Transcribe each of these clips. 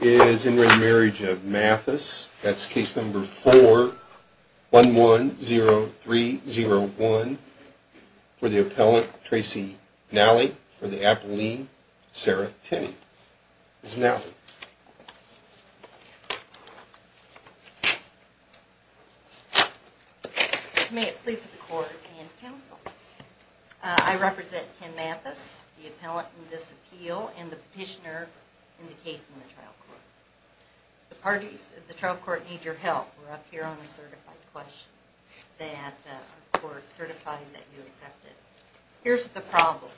Is in re Marriage of Mathis, that's case number 4110301, for the appellant, Tracy Nally, for the appellant, Sarah Kinney. May it please the court and counsel. I represent Ken Mathis, the appellant in this appeal, and the petitioner in the case in the trial court. The parties of the trial court need your help. We're up here on a certified question that the court certified that you accepted. Here's the problem.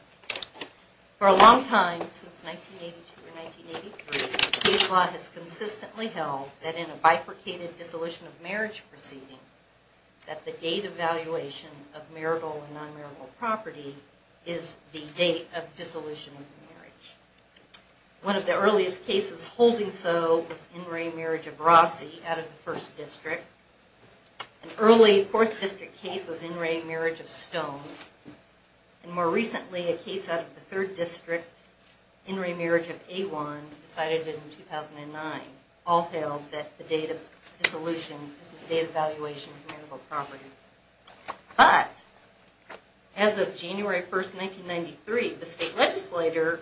For a long time, since 1982 or 1983, case law has consistently held that in a bifurcated dissolution of marriage proceeding, that the date of valuation of marital and non-marital property is the date of dissolution of marriage. One of the earliest cases holding so was in re Marriage of Rossi, out of the 1st District. An early 4th District case was in re Marriage of Stone. And more recently, a case out of the 3rd District, in re Marriage of Awan, decided in 2009. All held that the date of dissolution is the date of valuation of marital property. But, as of January 1st, 1993, the state legislature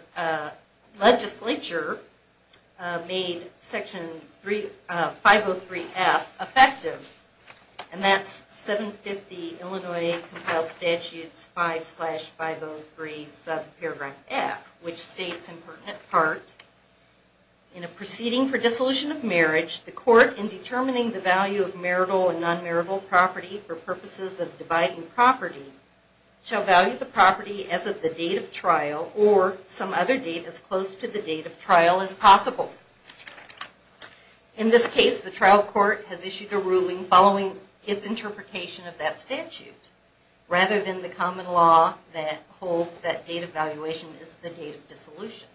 made Section 503F effective. And that's 750 Illinois Compiled Statutes 5-503 subparagraph F, which states in pertinent part, In a proceeding for dissolution of marriage, the court, in determining the value of marital and non-marital property for purposes of dividing property, shall value the property as of the date of trial, or some other date as close to the date of trial as possible. In this case, the trial court has issued a ruling following its interpretation of that statute, rather than the common law that holds that date of valuation is the date of dissolution.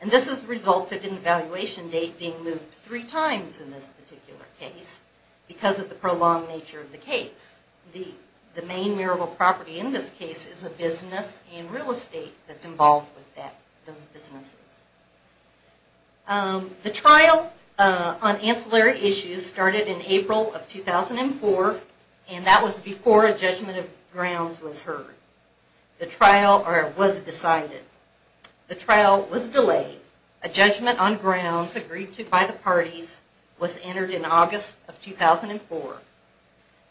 And this has resulted in the valuation date being moved three times in this particular case, because of the prolonged nature of the case. The main marital property in this case is a business and real estate that's involved with those businesses. The trial on ancillary issues started in April of 2004, and that was before a judgment of grounds was heard. The trial was decided. The trial was delayed. A judgment on grounds agreed to by the parties was entered in August of 2004.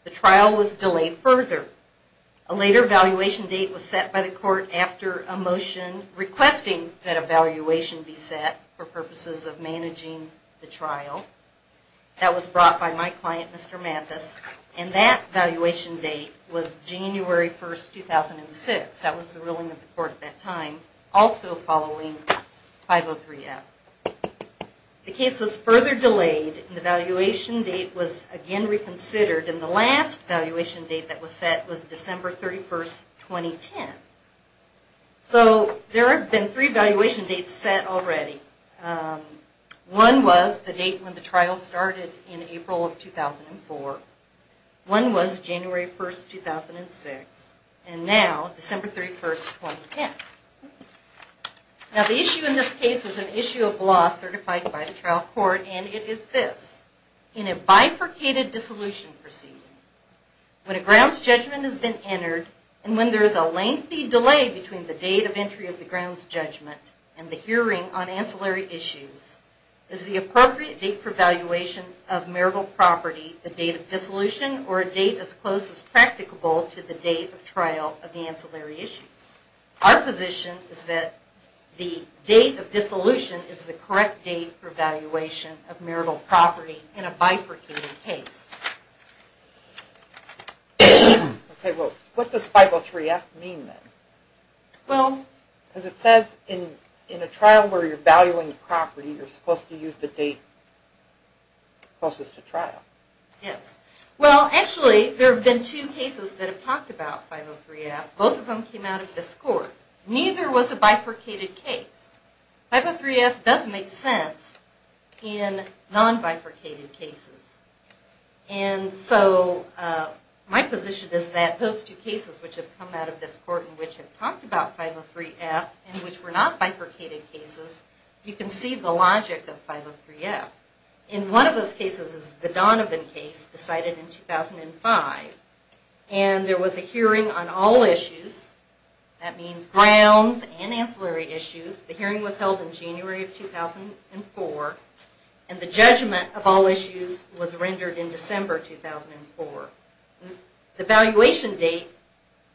The trial was delayed further. A later valuation date was set by the court after a motion requesting that a valuation be set for purposes of managing the trial. That was brought by my client, Mr. Mathis, and that valuation date was January 1, 2006. That was the ruling of the court at that time, also following 503F. The case was further delayed, and the valuation date was again reconsidered, and the last valuation date that was set was December 31, 2010. So there have been three valuation dates set already. One was the date when the trial started in April of 2004. One was January 1, 2006. And now, December 31, 2010. Now the issue in this case is an issue of law certified by the trial court, and it is this. In a bifurcated dissolution proceeding, when a grounds judgment has been entered, and when there is a lengthy delay between the date of entry of the grounds judgment and the hearing on ancillary issues, is the appropriate date for valuation of marital property the date of dissolution or a date as close as practicable to the date of trial of the ancillary issues? Our position is that the date of dissolution is the correct date for valuation of marital property in a bifurcated case. Okay, well, what does 503F mean then? Well... Because it says in a trial where you're valuing property, you're supposed to use the date closest to trial. Yes. Well, actually, there have been two cases that have talked about 503F. Both of them came out of this court. Neither was a bifurcated case. 503F does make sense in non-bifurcated cases. And so, my position is that those two cases which have come out of this court and which have talked about 503F and which were not bifurcated cases, you can see the logic of 503F. In one of those cases, the Donovan case decided in 2005, and there was a hearing on all issues. That means grounds and ancillary issues. The hearing was held in January of 2004, and the judgment of all issues was rendered in December 2004. The valuation date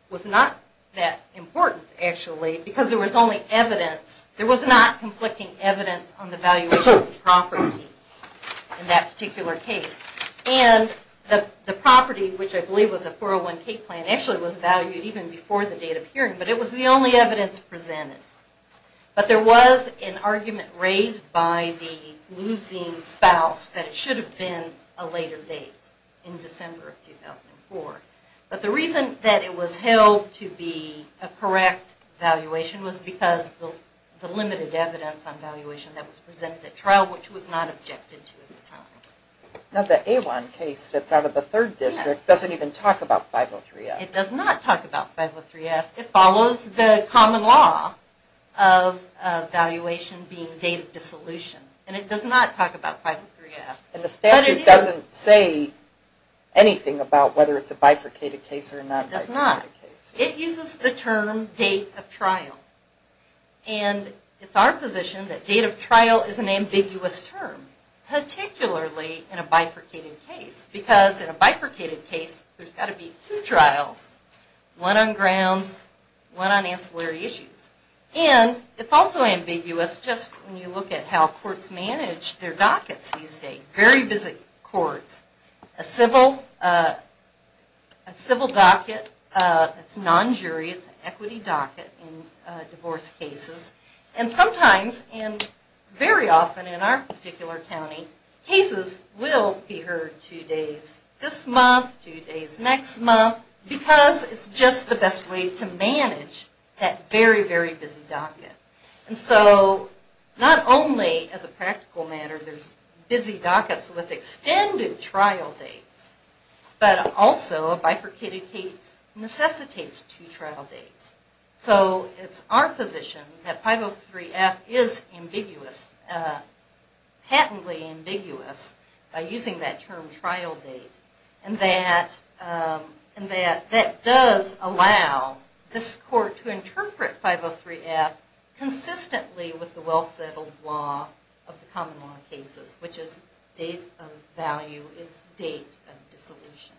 was not that important, actually, because there was only evidence. There was only evidence on the valuation of the property in that particular case. And the property, which I believe was a 401K plan, actually was valued even before the date of hearing, but it was the only evidence presented. But there was an argument raised by the losing spouse that it should have been a later date in December of 2004. But the reason that it was held to be a correct valuation was because of the limited evidence on valuation that was presented at trial, which was not objected to at the time. Now, the A1 case that's out of the third district doesn't even talk about 503F. It does not talk about 503F. It follows the common law of valuation being date of dissolution, and it does not talk about 503F. And the statute doesn't say anything about whether it's a bifurcated case or a non-bifurcated case. It does not. It uses the term date of trial. And it's our position that date of trial is an ambiguous term, particularly in a bifurcated case, because in a bifurcated case there's got to be two trials, one on grounds, one on ancillary issues. And it's also ambiguous just when you look at how courts manage their dockets these days. Very busy courts. A civil docket, it's non-jury, it's an equity docket in divorce cases. And sometimes, and very often in our particular county, cases will be heard two days this month, two days next month, because it's just the best way to manage that very, very busy docket. And so not only as a practical matter there's busy dockets with extended trial dates, but also a bifurcated case necessitates two trial dates. So it's our position that 503F is ambiguous, patently ambiguous, by using that term trial date. And that does allow this court to interpret 503F consistently with the well-settled law of the common law cases, which is date of value is date of dissolution.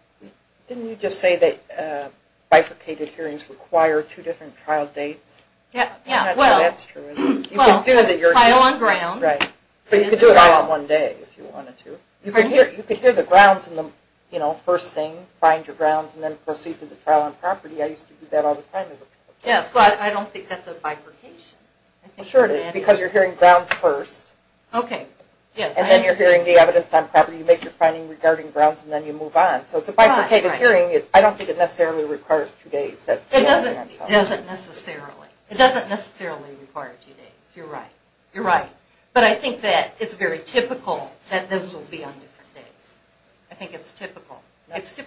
Didn't you just say that bifurcated hearings require two different trial dates? Yeah, well, trial on grounds. Right, but you could do it all in one day if you wanted to. You could hear the grounds in the first thing, find your grounds, and then proceed to the trial on property. I used to do that all the time as a child. Yes, but I don't think that's a bifurcation. Sure it is, because you're hearing grounds first, and then you're hearing the evidence on property. You make your finding regarding grounds, and then you move on. So it's a bifurcated hearing. I don't think it necessarily requires two days. It doesn't necessarily. It doesn't necessarily require two days. You're right. You're right. But I think that it's very typical that those will be on different days. I think it's typical.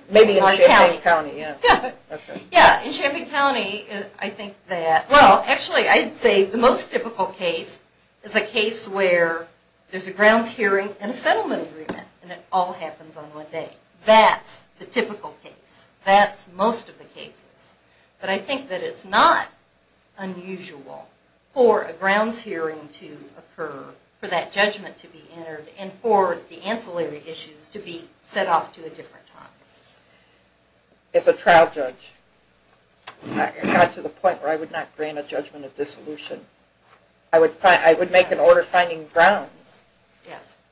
Maybe in Champaign County. Yeah, in Champaign County, I think that, well, actually, I'd say the most typical case is a case where there's a grounds hearing and a settlement agreement, and it all happens on one day. That's the typical case. That's most of the cases. But I think that it's not unusual for a grounds hearing to occur, for that judgment to be entered, and for the ancillary issues to be set off to a different time. As a trial judge, I got to the point where I would not grant a judgment of dissolution. I would make an order finding grounds,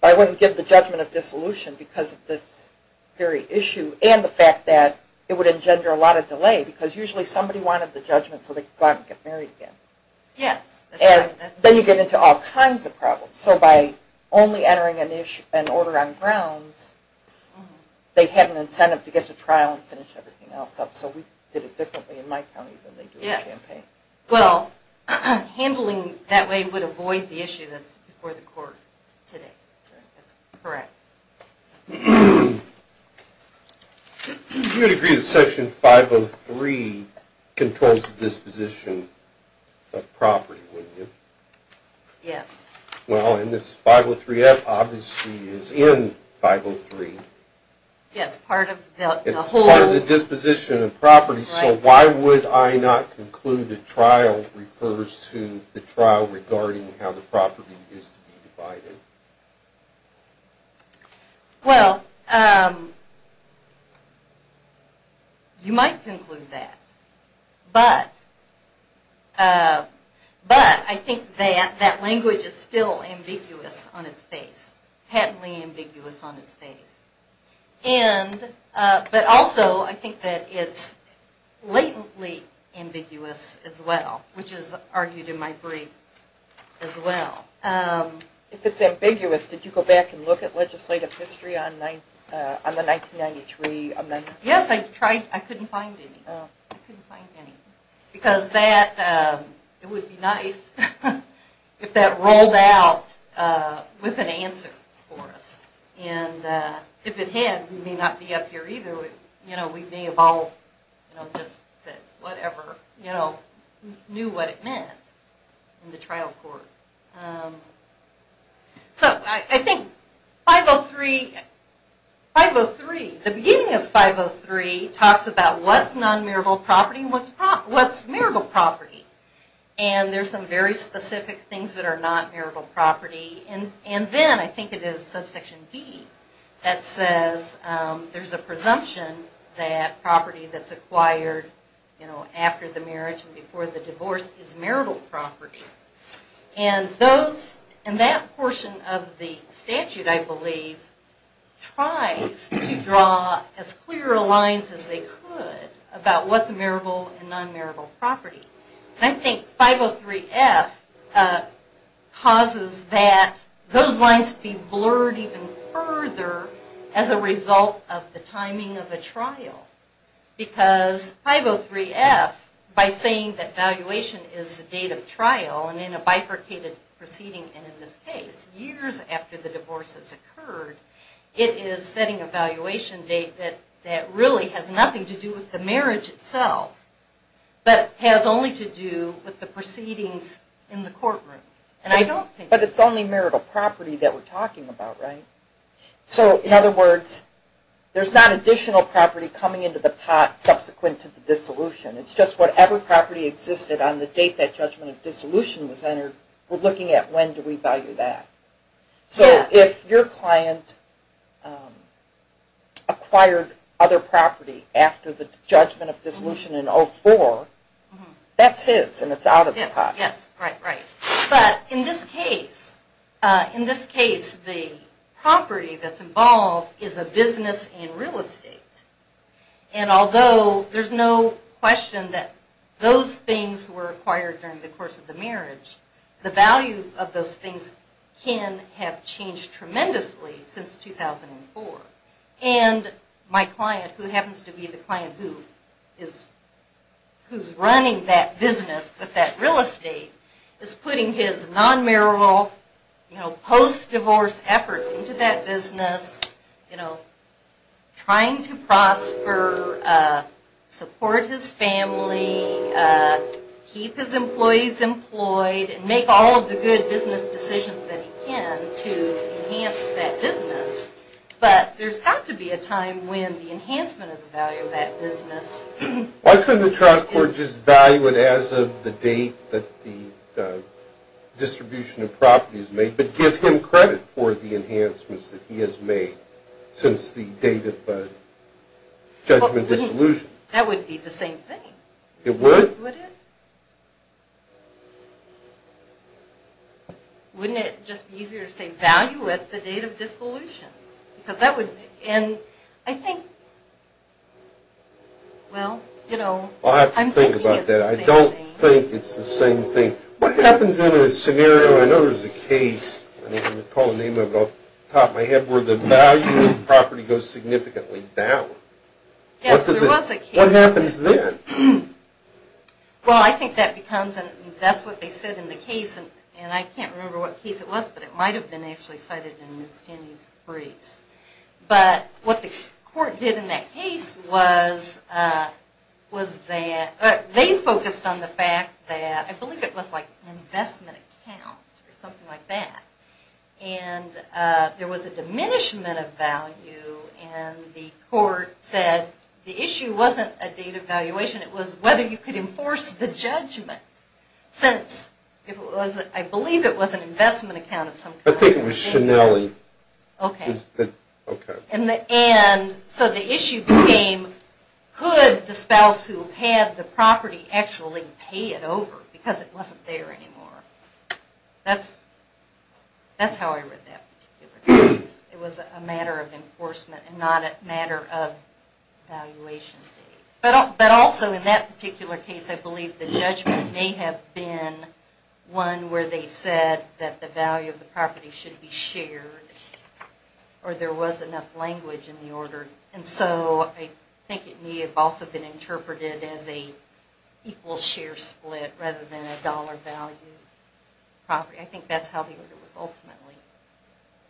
but I wouldn't give the judgment of dissolution because of this very issue and the fact that it would engender a lot of delay because usually somebody wanted the judgment so they could go out and get married again. Yes. Then you get into all kinds of problems. So by only entering an order on grounds, they had an incentive to get to trial and finish everything else up. So we did it differently in my county than they did in Champaign. Yes. Well, handling that way would avoid the issue that's before the court today. That's correct. You would agree that Section 503 controls the disposition of property, wouldn't you? Yes. Well, and this 503F obviously is in 503. Yes, part of the whole. It's part of the disposition of property. So why would I not conclude that trial refers to the trial regarding how the property is to be divided? Well, you might conclude that, but I think that that language is still ambiguous on its face, heavily ambiguous on its face. But also I think that it's latently ambiguous as well, which is argued in my brief as well. If it's ambiguous, did you go back and look at legislative history on the 1993 amendment? Yes, I tried. I couldn't find any. I couldn't find any. Because it would be nice if that rolled out with an answer for us. And if it had, we may not be up here either. We may have all just said whatever, knew what it meant in the trial court. So I think 503, 503, the beginning of 503 talks about what's non-marital property and what's marital property. And there's some very specific things that are not marital property. And then I think it is subsection B that says there's a presumption that property that's acquired after the marriage and before the divorce is marital property. And that portion of the statute, I believe, tries to draw as clear lines as they could about what's marital and non-marital property. And I think 503F causes that, those lines to be blurred even further as a result of the timing of a trial. Because 503F, by saying that valuation is the date of trial, and in a bifurcated proceeding, and in this case, years after the divorce has occurred, it is setting a valuation date that really has nothing to do with the marriage itself, but has only to do with the proceedings in the courtroom. But it's only marital property that we're talking about, right? So, in other words, there's not additional property coming into the pot subsequent to the dissolution. It's just whatever property existed on the date that judgment of dissolution was entered, we're looking at when do we value that. So if your client acquired other property after the judgment of dissolution in 04, that's his and it's out of the pot. Yes, right, right. But in this case, the property that's involved is a business in real estate. And although there's no question that those things were acquired during the course of the marriage, the value of those things can have changed tremendously since 2004. And my client, who happens to be the client who is running that business, that real estate, is putting his non-marital post-divorce efforts into that business, trying to prosper, support his family, keep his employees employed, and make all of the good business decisions that he can to enhance that business. But there's got to be a time when the enhancement of the value of that business is... the date that the distribution of property is made, but give him credit for the enhancements that he has made since the date of judgment of dissolution. That would be the same thing. It would? Would it? Wouldn't it just be easier to say, value at the date of dissolution? Because that would... And I think, well, you know, I'm thinking it's the same thing. I'll have to think about that. I don't think it's the same thing. What happens in a scenario, I know there's a case, and I'm going to call the name of it off the top of my head, where the value of the property goes significantly down? Yes, there was a case. What happens then? Well, I think that becomes... that's what they said in the case, and I can't remember what case it was, but it might have been actually cited in Ms. Denny's briefs. But what the court did in that case was that they focused on the fact that, I believe it was like an investment account or something like that, and there was a diminishment of value, and the court said the issue wasn't a date of valuation. It was whether you could enforce the judgment, I think it was Schinelli. And so the issue became could the spouse who had the property actually pay it over because it wasn't there anymore. That's how I read that particular case. It was a matter of enforcement and not a matter of valuation. But also in that particular case, I believe the judgment may have been one where they said that the value of the property should be shared or there was enough language in the order. And so I think it may have also been interpreted as an equal share split rather than a dollar value property. I think that's how the order was ultimately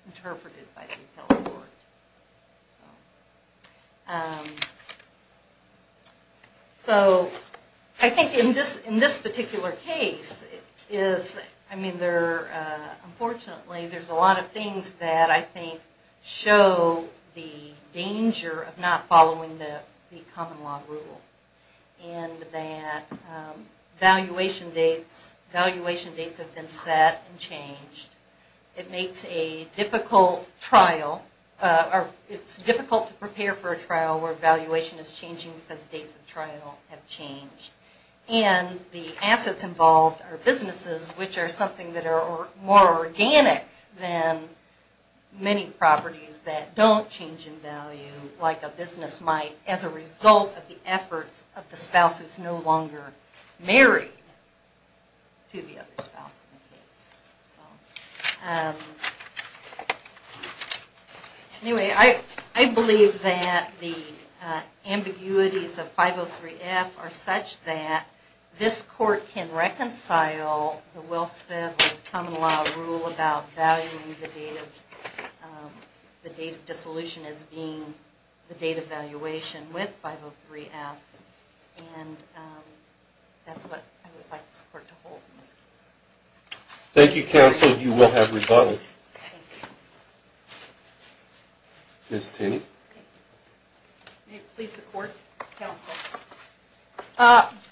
interpreted by the appellate court. So I think in this particular case, I mean, unfortunately there's a lot of things that I think show the danger of not following the common law rule. And that valuation dates have been set and changed. It makes a difficult trial, or it's difficult to prepare for a trial where valuation is changing because dates of trial have changed. And the assets involved are businesses, which are something that are more organic than many properties that don't change in value like a business might as a result of the efforts of the spouse who's no longer married to the other spouse in the case. Anyway, I believe that the ambiguities of 503F are such that this court can reconcile the Wilseth and common law rule about valuing the date of dissolution as being the date of valuation with 503F. And that's what I would like this court to hold in this case. Thank you, counsel. You will have rebuttal. Ms. Tenney. May it please the court?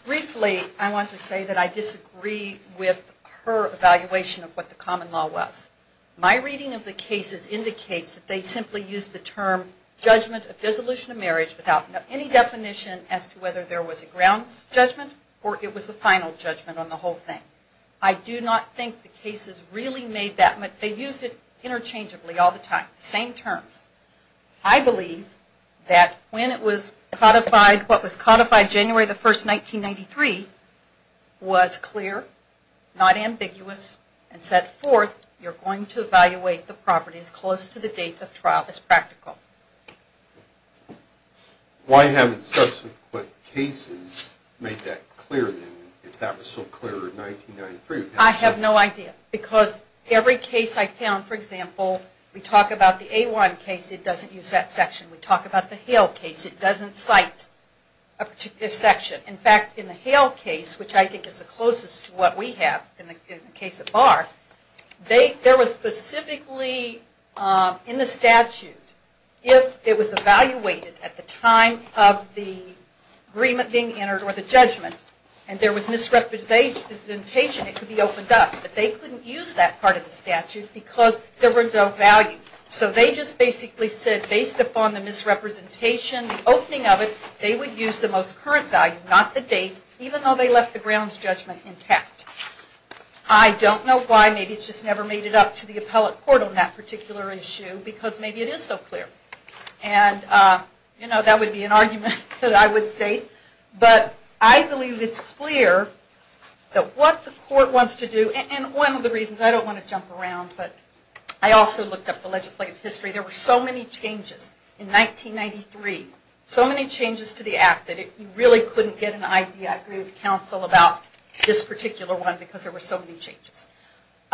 Briefly, I want to say that I disagree with her evaluation of what the common law was. My reading of the cases indicates that they simply used the term judgment of dissolution of marriage without any definition as to whether there was a grounds judgment or it was a final judgment on the whole thing. I do not think the cases really made that much, they used it interchangeably all the time, the same terms. I believe that when it was codified, what was codified January the 1st, 1993, was clear, not ambiguous, and set forth you're going to evaluate the properties close to the date of trial as practical. Why haven't subsequent cases made that clear then, if that was so clear in 1993? I have no idea. Because every case I found, for example, we talk about the A1 case, it doesn't use that section. We talk about the Hale case, it doesn't cite a particular section. In fact, in the Hale case, which I think is the closest to what we have, in the case of Barr, there was specifically in the statute, if it was evaluated at the time of the agreement being entered or the judgment, and there was misrepresentation, it could be opened up. But they couldn't use that part of the statute because there was no value. So they just basically said based upon the misrepresentation, the opening of it, they would use the most current value, not the date, even though they left the grounds judgment intact. I don't know why, maybe it just never made it up to the appellate court on that particular issue because maybe it is so clear. And that would be an argument that I would state. But I believe it's clear that what the court wants to do, and one of the reasons, I don't want to jump around, but I also looked up the legislative history. There were so many changes in 1993, so many changes to the Act that you really couldn't get an idea, I agree with counsel, about this particular one because there were so many changes.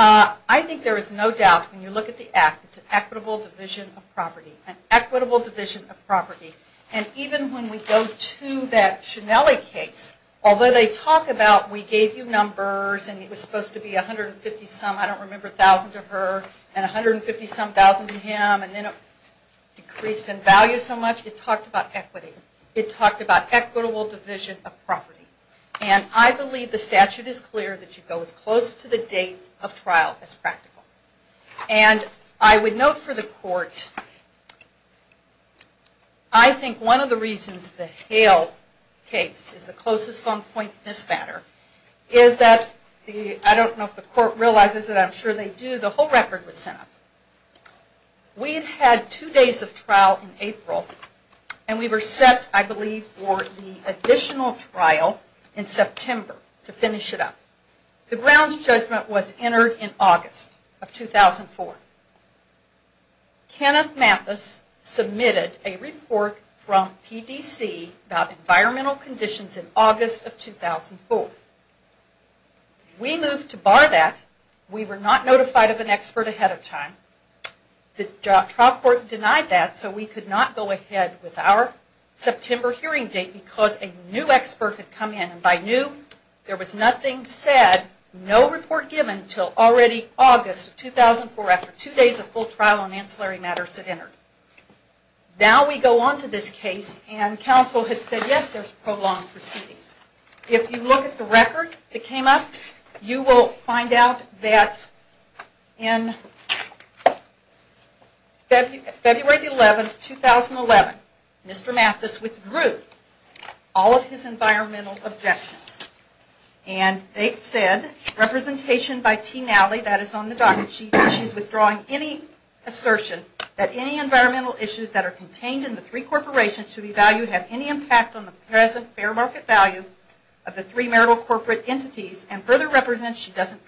I think there is no doubt, when you look at the Act, it's an equitable division of property. An equitable division of property. And even when we go to that Schinelli case, although they talk about we gave you numbers, and it was supposed to be 150 some, I don't remember, thousands of her, and 150 some thousands of him, and then it decreased in value so much, it talked about equity. It talked about equitable division of property. And I believe the statute is clear that you go as close to the date of trial as practical. And I would note for the court, I think one of the reasons the Hale case is the closest on point in this matter, is that, I don't know if the court realizes it, I'm sure they do, the whole record was sent up. We had had two days of trial in April, and we were set, I believe, for the additional trial in September to finish it up. The grounds judgment was entered in August of 2004. Kenneth Mathis submitted a report from PDC about environmental conditions in August of 2004. We moved to bar that. We were not notified of an expert ahead of time. The trial court denied that, so we could not go ahead with our September hearing date, because a new expert had come in, and I knew there was nothing said, no report given until already August of 2004, after two days of full trial on ancillary matters had entered. Now we go on to this case, and counsel had said, yes, there's prolonged proceedings. If you look at the record that came up, you will find out that in February 11, 2011, Mr. Mathis withdrew all of his environmental objections, and they said, representation by Team Alley, that is on the docket sheet, issues withdrawing any assertion that any environmental issues that are contained in the three corporations should be valued, have any impact on the present fair market value of the three marital corporate entities and further represents she doesn't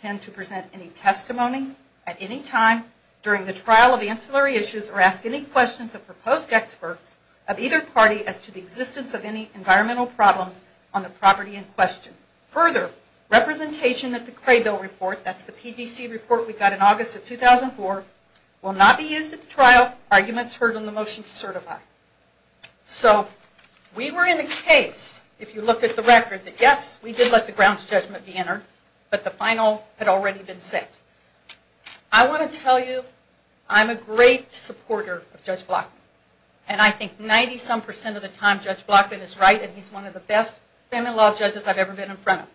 tend to present any testimony at any time during the trial of the ancillary issues or ask any questions of proposed experts of either party as to the existence of any environmental problems on the property in question. Further, representation that the Craybill report, that's the PDC report we got in August of 2004, will not be used at the trial. Arguments heard on the motion to certify. So we were in a case, if you look at the record, that yes, we did let the grounds judgment be entered, but the final had already been set. I want to tell you, I'm a great supporter of Judge Blackman, and I think 90-some percent of the time Judge Blackman is right and he's one of the best family law judges I've ever been in front of.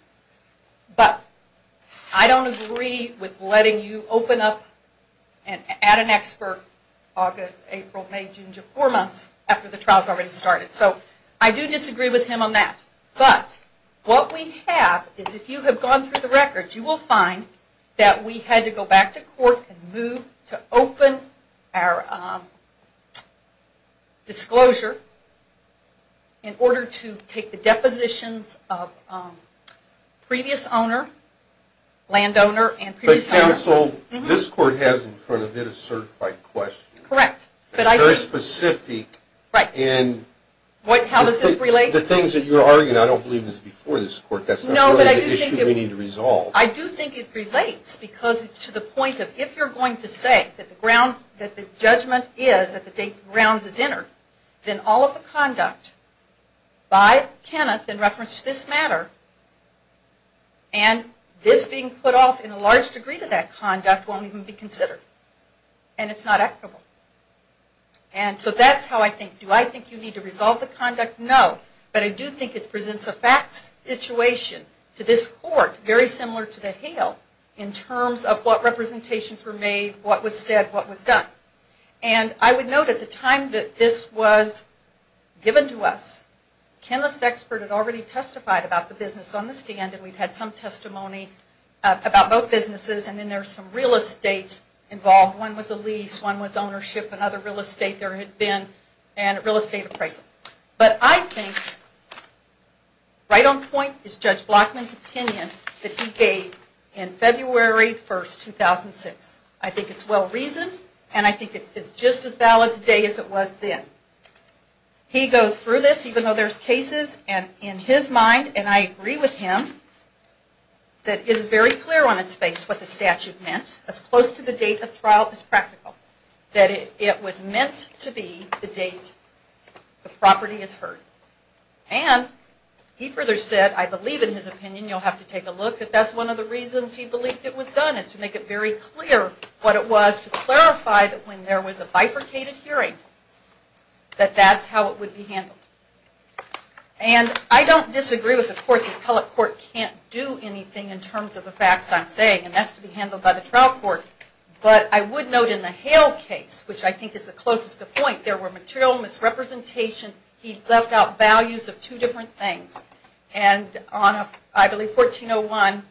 But I don't agree with letting you open up and add an expert August, April, May, June to four months after the trial has already started. So I do disagree with him on that. But what we have is if you have gone through the records, you will find that we had to go back to court and move to open our disclosure in order to take the depositions of previous owner, land owner, and previous owner. But counsel, this court has in front of it a certified question. Correct. It's very specific. How does this relate? The things that you're arguing, I don't believe this is before this court. That's not really the issue we need to resolve. I do think it relates because it's to the point of if you're going to say that the judgment is at the date the grounds is entered, then all of the conduct by Kenneth in reference to this matter and this being put off in a large degree to that conduct won't even be considered. And it's not equitable. And so that's how I think. Do I think you need to resolve the conduct? No. But I do think it presents a facts situation to this court, very similar to the Hale, in terms of what representations were made, what was said, what was done. And I would note at the time that this was given to us, Kenneth's expert had already testified about the business on the stand and we've had some testimony about both businesses. And then there's some real estate involved. One was a lease, one was ownership, and other real estate there had been. And real estate appraisal. But I think right on point is Judge Blockman's opinion that he gave in February 1, 2006. I think it's well-reasoned and I think it's just as valid today as it was then. He goes through this, even though there's cases, and in his mind, and I agree with him, that it is very clear on its face what the statute meant, as close to the date of trial as practical. That it was meant to be the date the property is heard. And he further said, I believe in his opinion, you'll have to take a look, that that's one of the reasons he believed it was done, is to make it very clear what it was, to clarify that when there was a bifurcated hearing, that that's how it would be handled. And I don't disagree with the court, the appellate court can't do anything in terms of the facts I'm saying, and that's to be handled by the trial court. But I would note in the Hale case, which I think is the closest to point, there were material misrepresentations. He left out values of two different things. And on, I believe, 1401,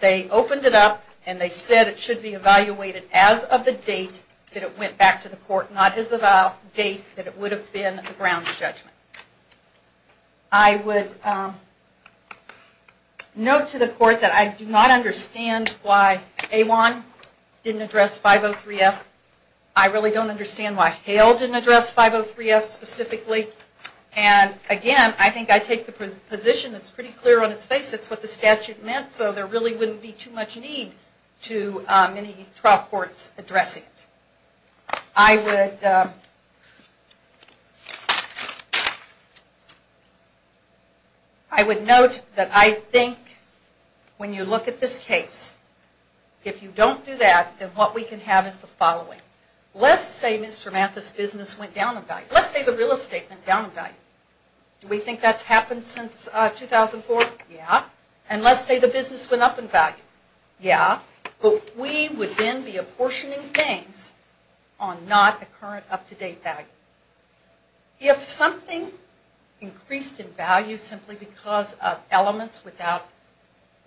they opened it up, and they said it should be evaluated as of the date that it went back to the court, not as of the date that it would have been a grounds judgment. I would note to the court that I do not understand why Awan didn't address 503F. I really don't understand why Hale didn't address 503F specifically. And again, I think I take the position, it's pretty clear on its face, it's what the statute meant, so there really wouldn't be too much need to many trial courts addressing it. I would note that I think when you look at this case, if you don't do that, then what we can have is the following. Let's say Mr. Mathis' business went down in value. Let's say the real estate went down in value. Do we think that's happened since 2004? Yeah. And let's say the business went up in value. Yeah. But we would then be apportioning things on not a current up-to-date value. If something increased in value simply because of elements without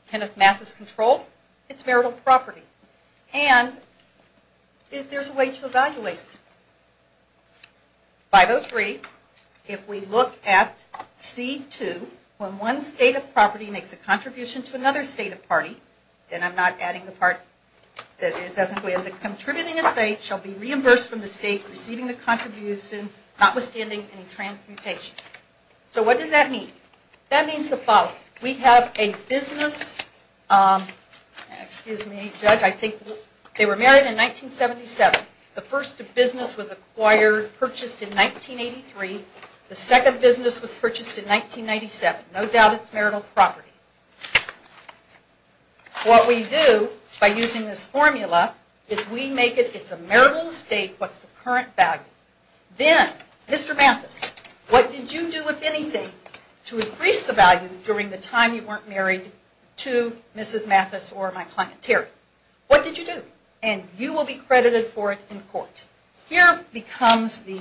Kenneth Mathis' control, it's marital property. And there's a way to evaluate it. 503, if we look at C2, when one state of property makes a contribution to another state of party, and I'm not adding the part that it doesn't go in, the contributing estate shall be reimbursed from the state receiving the contribution notwithstanding any transmutation. So what does that mean? That means the following. We have a business, excuse me, judge, I think they were married in 1977. The first business was acquired, purchased in 1983. The second business was purchased in 1997. No doubt it's marital property. What we do by using this formula is we make it, it's a marital estate, what's the current value. Then, Mr. Mathis, what did you do, if anything, to increase the value during the time you weren't married to Mrs. Mathis or my client Terry? What did you do? And you will be credited for it in court. Here becomes the,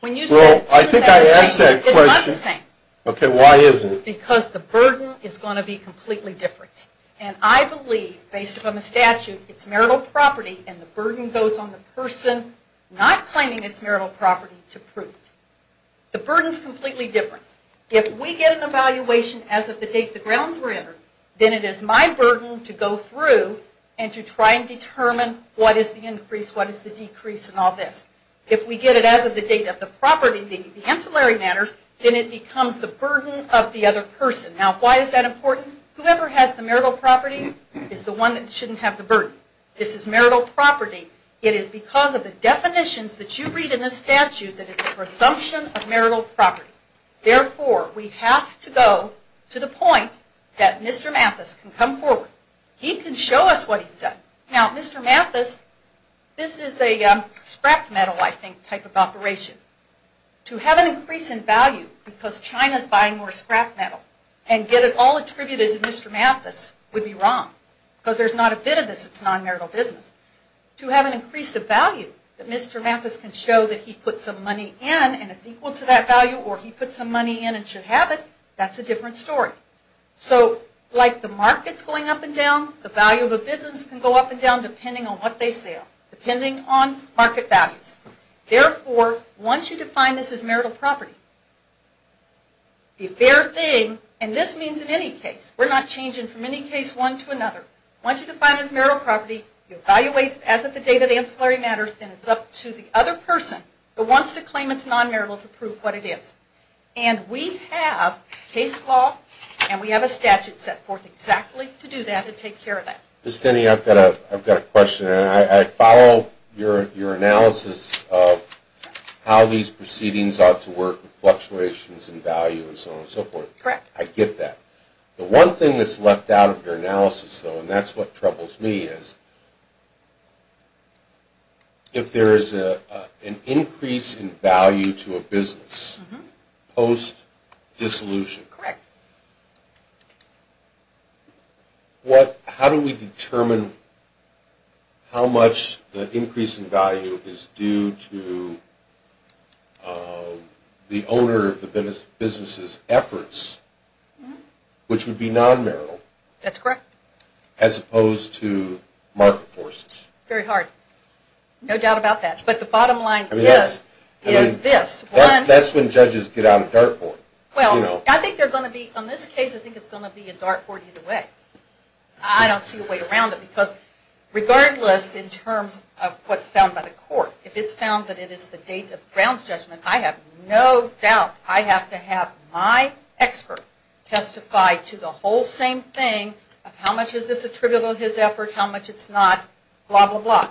when you say... Well, I think I asked that question. It's not the same. Okay, why isn't it? Because the burden is going to be completely different. And I believe, based upon the statute, it's marital property, and the burden goes on the person not claiming it's marital property to prove it. The burden is completely different. If we get an evaluation as of the date the grounds were entered, then it is my burden to go through and to try and determine what is the increase, what is the decrease, and all this. If we get it as of the date of the property, the ancillary matters, then it becomes the burden of the other person. Now, why is that important? Whoever has the marital property is the one that shouldn't have the burden. This is marital property. It is because of the definitions that you read in the statute that it's a presumption of marital property. Therefore, we have to go to the point that Mr. Mathis can come forward. He can show us what he's done. Now, Mr. Mathis, this is a scrap metal, I think, type of operation. To have an increase in value because China is buying more scrap metal and get it all attributed to Mr. Mathis would be wrong because there's not a bit of this that's non-marital business. To have an increase of value that Mr. Mathis can show that he put some money in and it's equal to that value or he put some money in and should have it, that's a different story. So, like the market's going up and down, the value of a business can go up and down depending on what they sell, depending on market values. Therefore, once you define this as marital property, the fair thing, and this means in any case. We're not changing from any case one to another. Once you define it as marital property, you evaluate it as at the date of ancillary matters and it's up to the other person who wants to claim it's non-marital to prove what it is. And we have case law and we have a statute set forth exactly to do that and take care of that. Ms. Denny, I've got a question. I follow your analysis of how these proceedings ought to work with fluctuations in value and so on and so forth. Correct. I get that. The one thing that's left out of your analysis, though, and that's what troubles me is if there is an increase in value to a business post-dissolution, how do we determine how much the increase in value is due to the owner of the business' efforts, which would be non-marital. That's correct. As opposed to market forces. Very hard. No doubt about that. But the bottom line is this. That's when judges get out of dartboard. Well, on this case, I think it's going to be a dartboard either way. I don't see a way around it because regardless in terms of what's found by the court, if it's found that it is the date of Brown's judgment, I have no doubt I have to have my expert testify to the whole same thing of how much is this attributable to his effort,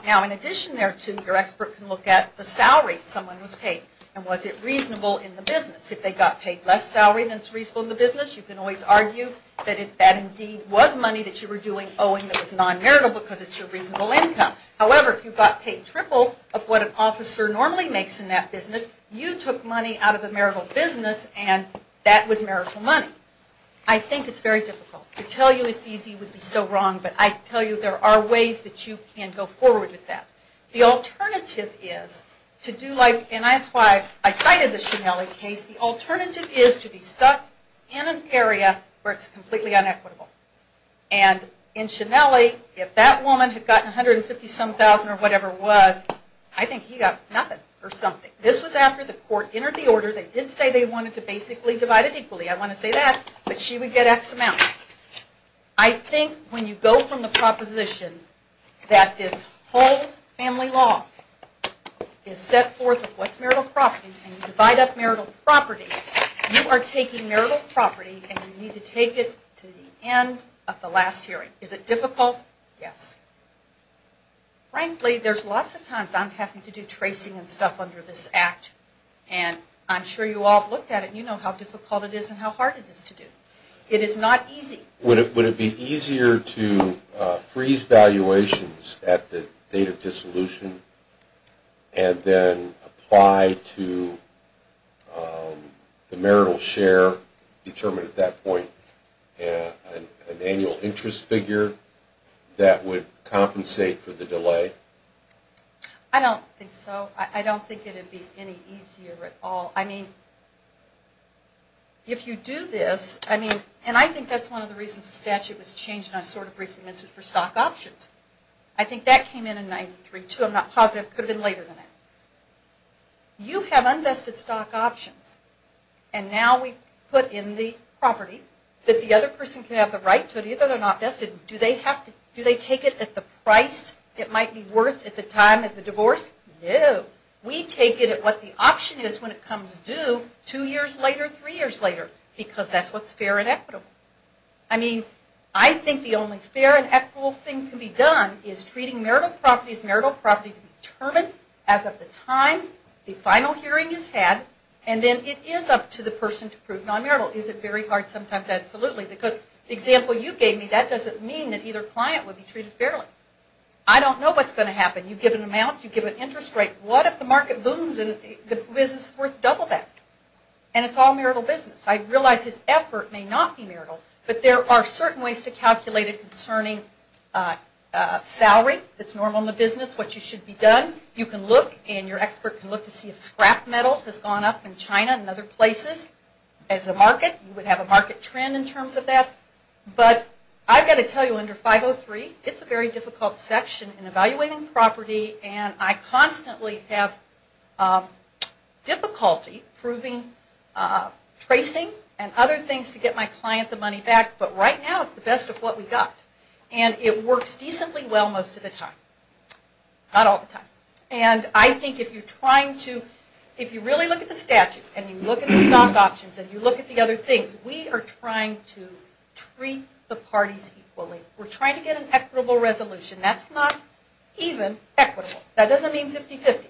Now, in addition there to your expert can look at the salary someone was paid and was it reasonable in the business. If they got paid less salary than is reasonable in the business, you can always argue that that indeed was money that you were doing owing that was non-marital because it's your reasonable income. However, if you got paid triple of what an officer normally makes in that business, you took money out of the marital business and that was marital money. I think it's very difficult. To tell you it's easy would be so wrong, but I tell you there are ways that you can go forward with that. The alternative is to do like, and that's why I cited the Schinelli case, the alternative is to be stuck in an area where it's completely inequitable. And in Schinelli, if that woman had gotten 150 some thousand or whatever it was, I think he got nothing or something. This was after the court entered the order. They did say they wanted to basically divide it equally. I want to say that, but she would get X amount. I think when you go from the proposition that this whole family law is set forth of what's marital property and you divide up marital property, you are taking marital property and you need to take it to the end of the last hearing. Is it difficult? Yes. Frankly, there's lots of times I'm having to do tracing and stuff under this Act, and I'm sure you all have looked at it and you know how difficult it is and how hard it is to do. It is not easy. Would it be easier to freeze valuations at the date of dissolution and then apply to the marital share determined at that point, an annual interest figure that would compensate for the delay? I don't think so. I don't think it would be any easier at all. I mean, if you do this, and I think that's one of the reasons the statute was changed and I sort of briefly mentioned it for stock options. I think that came in in 93-2. I'm not positive. It could have been later than that. You have unvested stock options, and now we put in the property that the other person can have the right to it, even though they're not vested. Do they take it at the price it might be worth at the time of the divorce? No. We take it at what the option is when it comes due two years later, three years later, because that's what's fair and equitable. I mean, I think the only fair and equitable thing to be done is treating marital properties, marital property determined as of the time the final hearing is had, and then it is up to the person to prove non-marital. Is it very hard? Sometimes, absolutely, because the example you gave me, that doesn't mean that either client would be treated fairly. I don't know what's going to happen. You give an amount. You give an interest rate. What if the market booms and the business is worth double that, and it's all marital business? I realize his effort may not be marital, but there are certain ways to calculate it concerning salary that's normal in the business, what you should be done. You can look and your expert can look to see if scrap metal has gone up in China and other places as a market. You would have a market trend in terms of that, but I've got to tell you under 503, it's a very difficult section in evaluating property, and I constantly have difficulty proving, tracing and other things to get my client the money back, but right now it's the best of what we've got. And it works decently well most of the time. Not all the time. And I think if you're trying to, if you really look at the statute and you look at the stock options and you look at the other things, we are trying to treat the parties equally. We're trying to get an equitable resolution. That's not even equitable. That doesn't mean 50-50.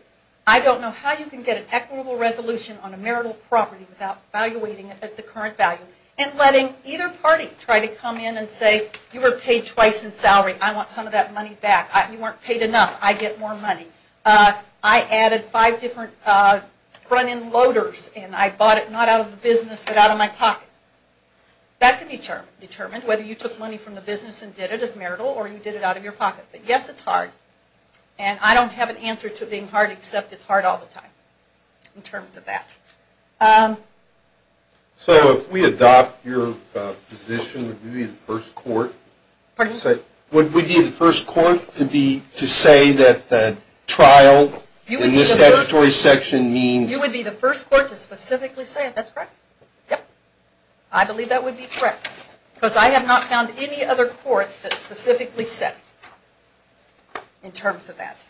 I don't know how you can get an equitable resolution on a marital property without evaluating it at the current value and letting either party try to come in and say, you were paid twice in salary. I want some of that money back. You weren't paid enough. I get more money. I added five different run-in loaders, and I bought it not out of the business but out of my pocket. That can be determined, whether you took money from the business and did it as marital or you did it out of your pocket. But yes, it's hard. And I don't have an answer to it being hard, except it's hard all the time in terms of that. So if we adopt your position, would we be the first court? Pardon? Would we be the first court to say that the trial in this statutory section means... You would be the first court to specifically say it. That's correct. Yep. I believe that would be correct, because I have not found any other court that specifically said it in terms of that.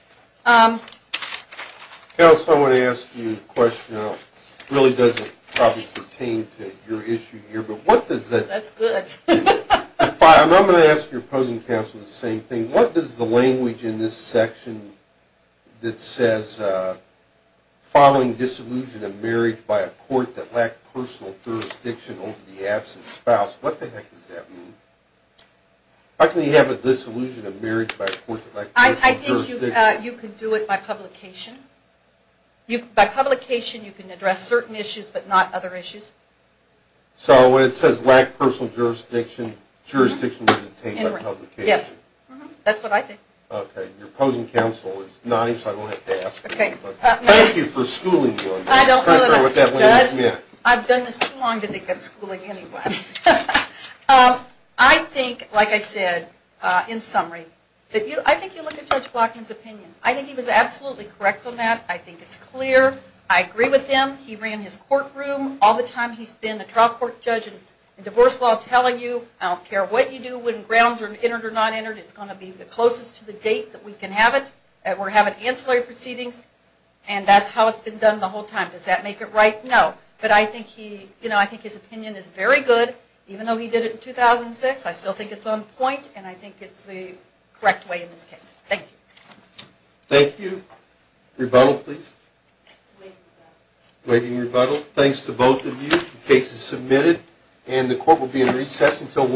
Counsel, I want to ask you a question. It really doesn't probably pertain to your issue here, but what does that... That's good. I'm going to ask your opposing counsel the same thing. What does the language in this section that says, following disillusion of marriage by a court that lacked personal jurisdiction over the absent spouse, what the heck does that mean? How can you have a disillusion of marriage by a court that lacked personal jurisdiction? I think you can do it by publication. By publication, you can address certain issues, but not other issues. So when it says lacked personal jurisdiction, jurisdiction was obtained by publication? Yes. That's what I think. Okay. Your opposing counsel is nice. I won't have to ask. Okay. Thank you for schooling me on this. I don't know what that language meant. I've done this too long to think of schooling anyone. I think, like I said, in summary, I think you look at Judge Glockman's opinion. I think he was absolutely correct on that. I think it's clear. I agree with him. He ran his courtroom all the time. He's been a trial court judge in divorce law telling you, I don't care what you do, when grounds are entered or not entered, it's going to be the closest to the gate that we can have it. We're having ancillary proceedings, and that's how it's been done the whole time. Does that make it right? No. But I think his opinion is very good. Even though he did it in 2006, I still think it's on point, and I think it's the correct way in this case. Thank you. Thank you. Rebuttal, please. Waiting rebuttal. Thanks to both of you. The case is submitted, and the court will be in recess until 1 p.m.